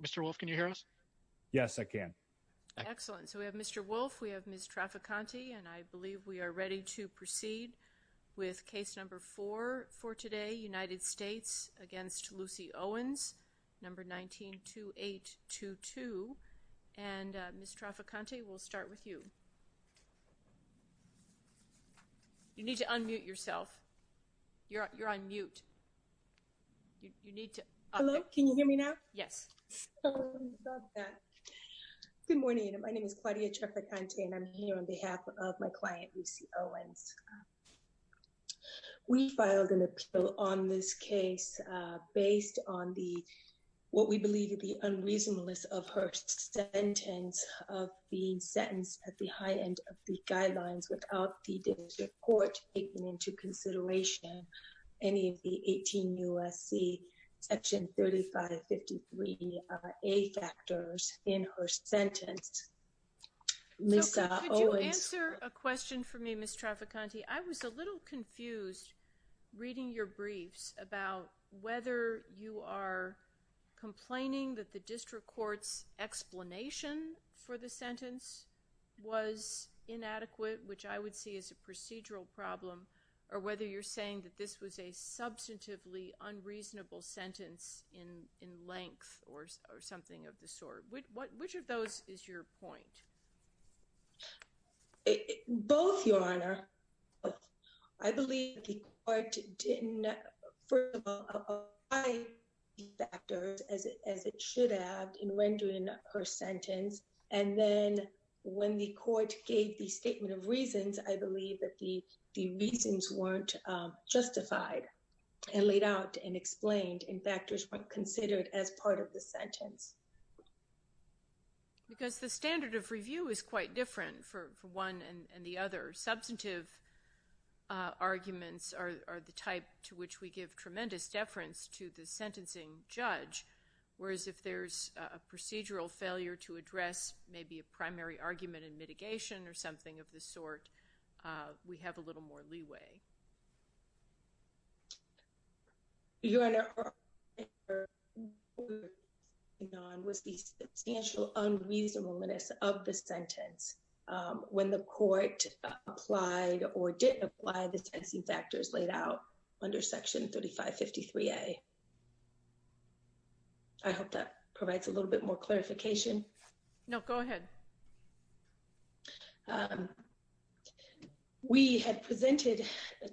Mr. Wolfe, can you hear us? Yes, I can. Excellent. So we have Mr. Wolfe, we have Ms. Traficante, and I believe we are ready to proceed with case number four for today, United States against Lucy Owens, number 192822. And Ms. Traficante, we'll start with you. You need to unmute yourself. You're on Yes. Good morning. My name is Claudia Traficante. And I'm here on behalf of my client, Lucy Owens. We filed an appeal on this case, based on the what we believe to be unreasonableness of her sentence of being sentenced at the high end of the guidelines without the court taking into consideration any of the 18 U.S.C. Section 3553A factors in her sentence. Could you answer a question for me, Ms. Traficante? I was a little confused reading your briefs about whether you are complaining that the district court's sentence was inadequate, which I would see as a procedural problem, or whether you're saying that this was a substantively unreasonable sentence in length or something of the sort. Which of those is your point? Both, Your Honor. I believe the court didn't, first of all, apply factors as it should have in rendering her sentence. And then when the court gave the statement of reasons, I believe that the reasons weren't justified and laid out and explained and factors weren't considered as part of the sentence. Because the standard of review is quite different for one and the other. Substantive arguments are the type to which we give tremendous deference to the sentencing judge, whereas if there's a procedural failure to address maybe a primary argument in mitigation or something of the sort, we have a little more leeway. Your Honor, what we're working on was the substantial unreasonableness of the sentence. When the court applied or didn't apply the sentencing factors laid out under Section 3553A. I hope that provides a little bit more clarification. No, go ahead. We had presented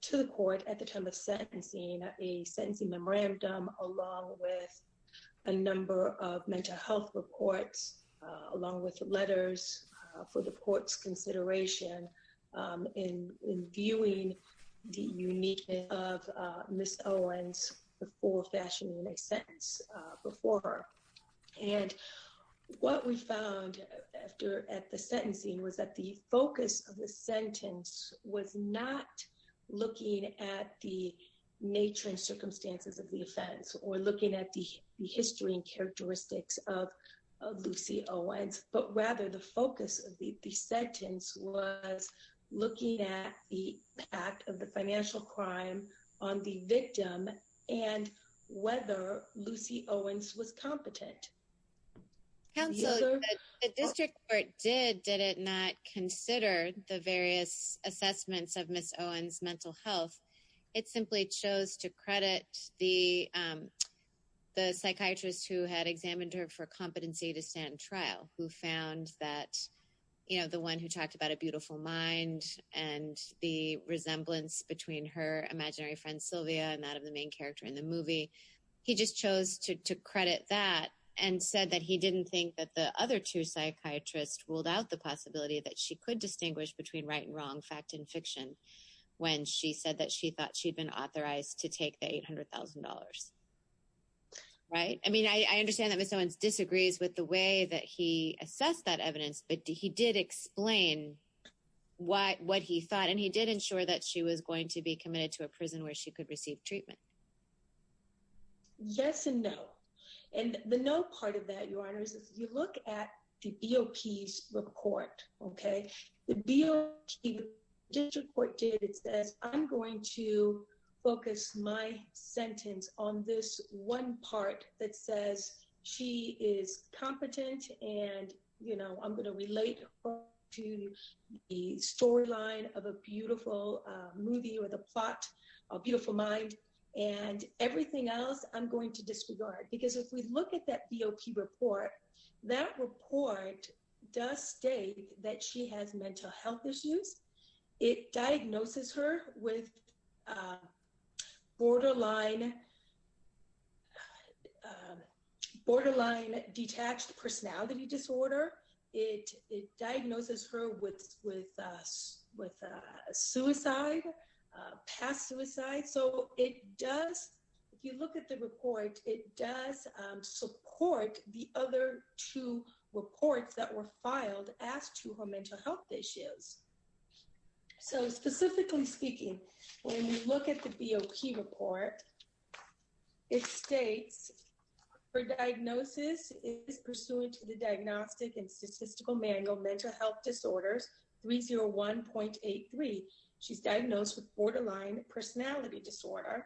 to the court at the time of sentencing a sentencing memorandum along with a number of mental health reports, along with letters for the court's consideration in viewing the uniqueness of Ms. Owens before fashioning a sentence before her. What we found at the sentencing was that the focus of the sentence was not looking at the circumstances of the offense or looking at the history and characteristics of Lucy Owens, but rather the focus of the sentence was looking at the act of the financial crime on the victim and whether Lucy Owens was competent. Counsel, the district court did, did it not consider the various assessments of Ms. Owens' mental health, it simply chose to credit the psychiatrist who had examined her for competency to stand trial, who found that, you know, the one who talked about a beautiful mind and the resemblance between her imaginary friend, Sylvia, and that of the main character in the movie, he just chose to credit that and said that he didn't think that the other two psychiatrists ruled out the possibility that she could distinguish between right and wrong, fact and she said that she thought she'd been authorized to take the $800,000, right? I mean, I understand that Ms. Owens disagrees with the way that he assessed that evidence, but he did explain what he thought and he did ensure that she was going to be committed to a prison where she could receive treatment. Yes and no. And the no part of that, if you look at the BOP's report, okay, the BOP district court did, it says, I'm going to focus my sentence on this one part that says she is competent and, you know, I'm going to relate to the storyline of a beautiful movie or the plot, a beautiful mind and everything else, I'm going to disregard because if we look at that BOP report, that report does state that she has mental health issues. It diagnoses her with borderline detached personality disorder. It diagnoses her with suicide, past suicide. So it does, if you look at the report, it does support the other two reports that were filed as to her mental health issues. So specifically speaking, when you look at the BOP report, it states her diagnosis is pursuant to the diagnostic and statistical manual mental health disorders 301.83. She's diagnosed with borderline personality disorder,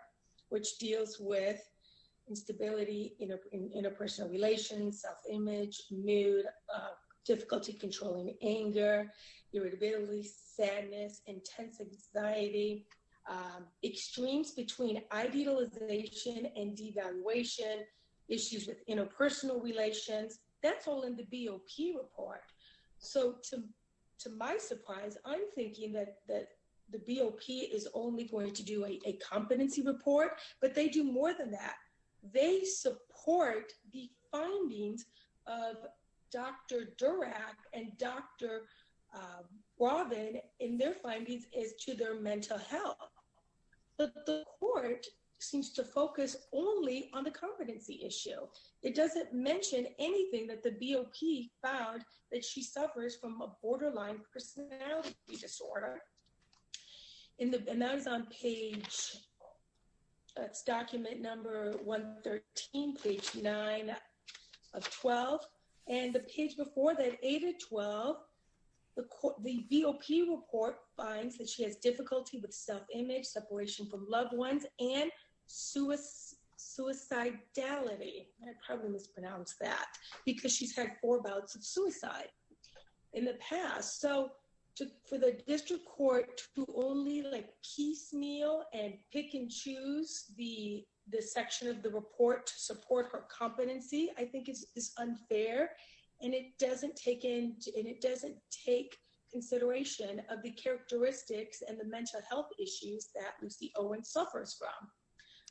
which deals with instability in interpersonal relations, self-image, mood, difficulty controlling anger, irritability, sadness, intense anxiety, extremes between idealization and devaluation, issues with interpersonal relations. That's all in the BOP report. So to my surprise, I'm thinking that the BOP is only going to do a competency report, but they do more than that. They support the findings of Dr. Durack and Dr. Robin in their findings as to their mental health. But the court seems to focus only on the competency issue. It doesn't mention anything that the BOP found that she suffers from a borderline personality disorder. And that is on page... That's document number 113, page 9 of 12. And the page before that, 8 of 12, the BOP report finds that she has difficulty with self-image, separation from loved ones, and suicidality. I probably mispronounced that because she's had four bouts of suicide in the past. So for the district court to only piecemeal and pick and choose the section of the report to support her competency, I think is unfair. And it doesn't take into... And it doesn't take consideration of the characteristics and the mental health issues that Lucy Owen suffers from.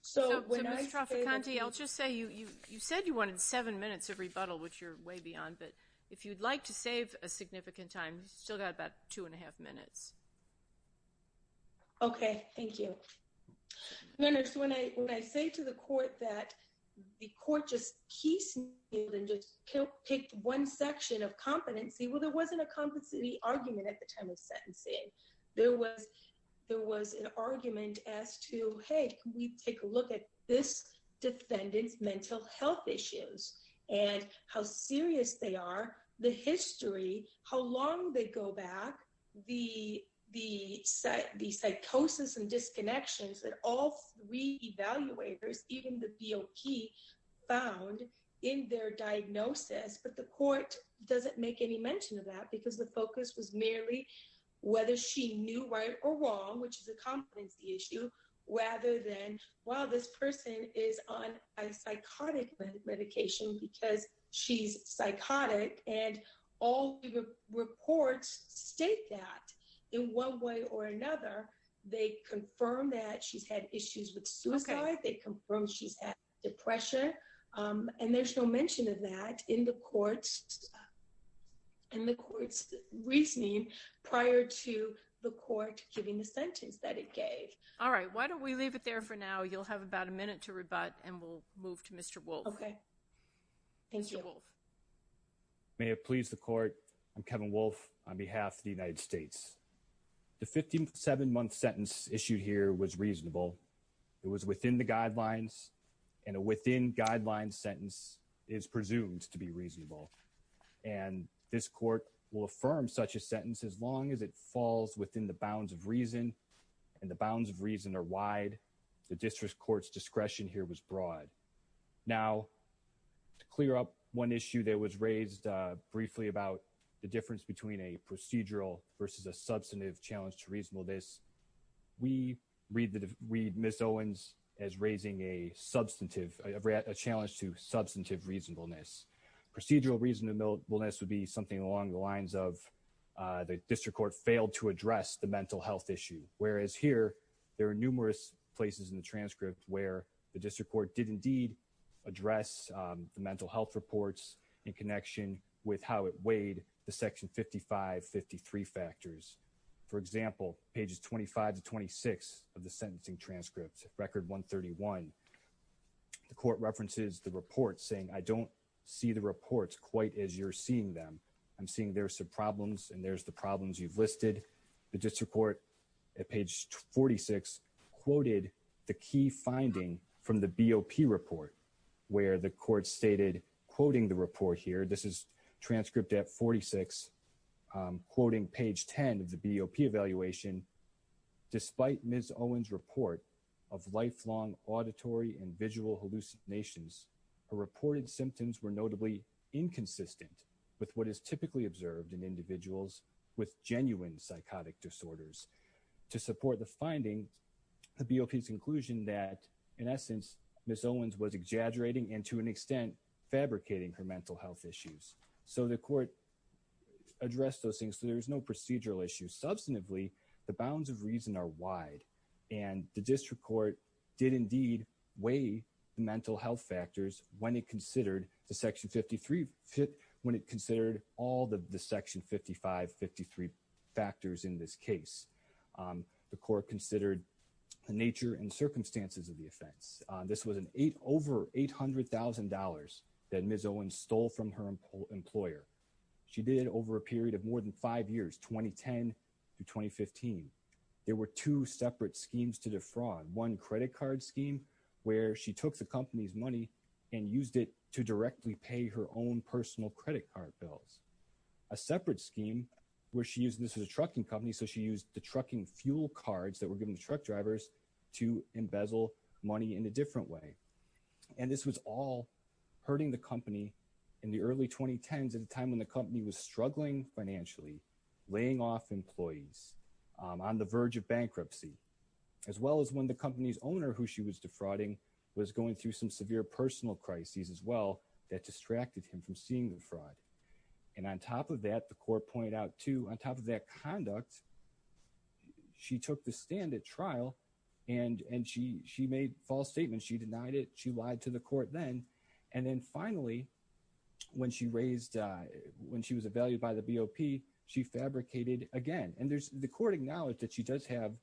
So when I say that... So Ms. Traficante, I'll just say you said you wanted seven minutes of rebuttal, which you're way beyond. But if you'd like to save a significant time, you've still got about two and a half minutes. Okay, thank you. When I say to the court that the court just piecemealed and just picked one section of competency, well, there wasn't a competency argument at the time of sentencing. There was an argument as to, can we take a look at this defendant's mental health issues and how serious they are, the history, how long they go back, the psychosis and disconnections that all three evaluators, even the BOP, found in their diagnosis. But the court doesn't make any mention of that because the focus was merely whether she knew right or wrong, which is a competency issue, rather than, well, this person is on a psychotic medication because she's psychotic. And all the reports state that in one way or another, they confirm that she's had issues with suicide. They confirm she's had depression. And there's no mention of that in the court's reasoning prior to the court giving the sentence that it gave. All right. Why don't we leave it there for now? You'll have about a minute to rebut and we'll move to Mr. Wolfe. Okay. Thank you. May it please the court. I'm Kevin Wolfe on behalf of the United States. The 57-month sentence issued here was reasonable. It was within the guidelines, and a within guidelines sentence is presumed to be reasonable. And this court will affirm such a sentence as long as it falls within the bounds of reason, and the bounds of reason are wide. The district court's discretion here was broad. Now, to clear up one issue that was raised briefly about the difference between a procedural versus a substantive challenge to reasonableness, we read Ms. Owens as raising a substantive, a challenge to substantive reasonableness. Procedural reasonableness would be something along the lines of the district court failed to address the mental health issue. Whereas here, there are numerous places in the transcript where the district court did indeed address the mental health reports in connection with how it weighed the section 55-53 factors. For example, pages 25 to 26 of the sentencing transcript, record 131, the court references the report saying, I don't see the reports quite as you're seeing them. I'm seeing there's some problems, and there's the problems you've listed. The district court at page 46 quoted the key finding from the BOP report where the court stated, quoting the report here, this is transcript at 46, quoting page 10 of the BOP evaluation, despite Ms. Owens' report of lifelong auditory and visual hallucinations, her reported symptoms were notably inconsistent with what is typically observed in individuals with genuine psychotic disorders. To support the finding, the BOP's conclusion that, in essence, Ms. Owens was exaggerating and to an extent fabricating her mental health issues. So the court addressed those things, so there's no procedural issue. Substantively, the bounds of reason are wide, and the district court did indeed weigh the mental health factors when it considered the section 53, when it considered all the section 55, 53 factors in this case. The court considered the nature and circumstances of the offense. This was an over $800,000 that Ms. Owens stole from her employer. She did it over a period of more than five years, 2010 to 2015. There were two separate schemes to defraud, one credit card scheme where she took the company's money and used it to directly pay her own personal credit card bills. A separate scheme where she used, this was a trucking company, so she used the trucking fuel cards that were given to truck drivers to embezzle money in a different way. And this was all hurting the company in the early 2010s at a time when the company was struggling financially, laying off employees on the verge of bankruptcy, as well as when the company's owner, who she was defrauding, was going through severe personal crises as well that distracted him from seeing the fraud. And on top of that, the court pointed out, too, on top of that conduct, she took the stand at trial and she made false statements. She denied it. She lied to the court then. And then finally, when she was evaluated by the BOP, she fabricated again. And the court acknowledged that she does have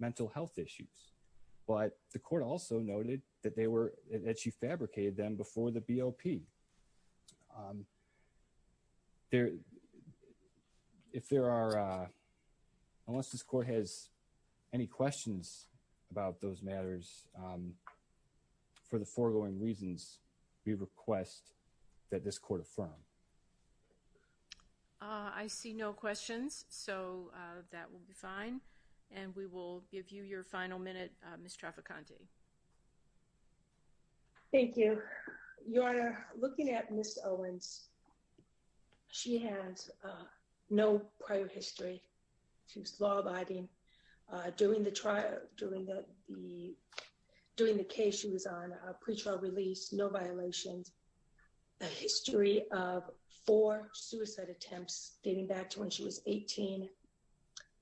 mental health issues. But the court also noted that they were, that she fabricated them before the BOP. There, if there are, unless this court has any questions about those matters, for the foregoing reasons, we request that this court affirm. I see no questions, so that will be fine. And we will give you your final minute, Ms. Traficante. Thank you. Your Honor, looking at Ms. Owens, she has no prior history. She was law-abiding during the trial, during the, during the case she was on, a pretrial release, no violations, a history of four suicide attempts dating back to when she was 18.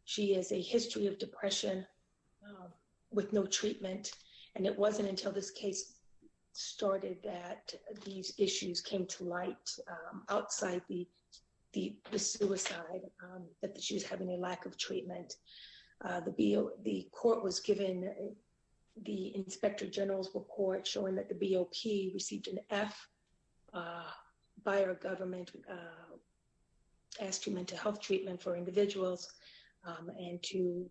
She has a history of depression with no treatment. And it wasn't until this case started that these issues came to light outside the, the suicide, that she was having a lack of treatment. The B, the court was given the Inspector General's report showing that the BOP received an F by her government as to mental health treatment for individuals. And to,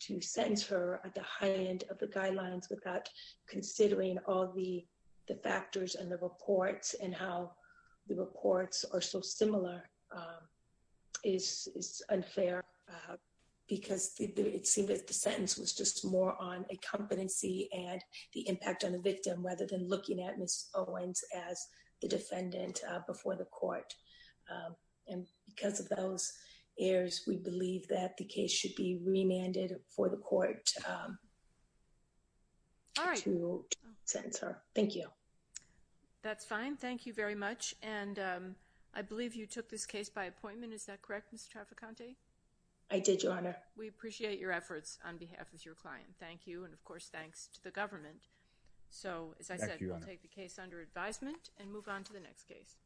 to sentence her at the high end of the guidelines without considering all the, the factors and the reports and how the reports are so similar is, is unfair because it seemed that the sentence was just more on a competency and the impact on the victim rather than looking at Ms. Owens as the defendant before the court. And because of those errors, we believe that the case should be remanded for the court to sentence her. Thank you. That's fine. Thank you very much. And I believe you took this case by appointment. Is that correct, Mr. Traficante? I did, Your Honor. We appreciate your efforts on behalf of your client. Thank you. And of course, thanks to the government. So as I said, I'll take the case under advisement and move on to the next case.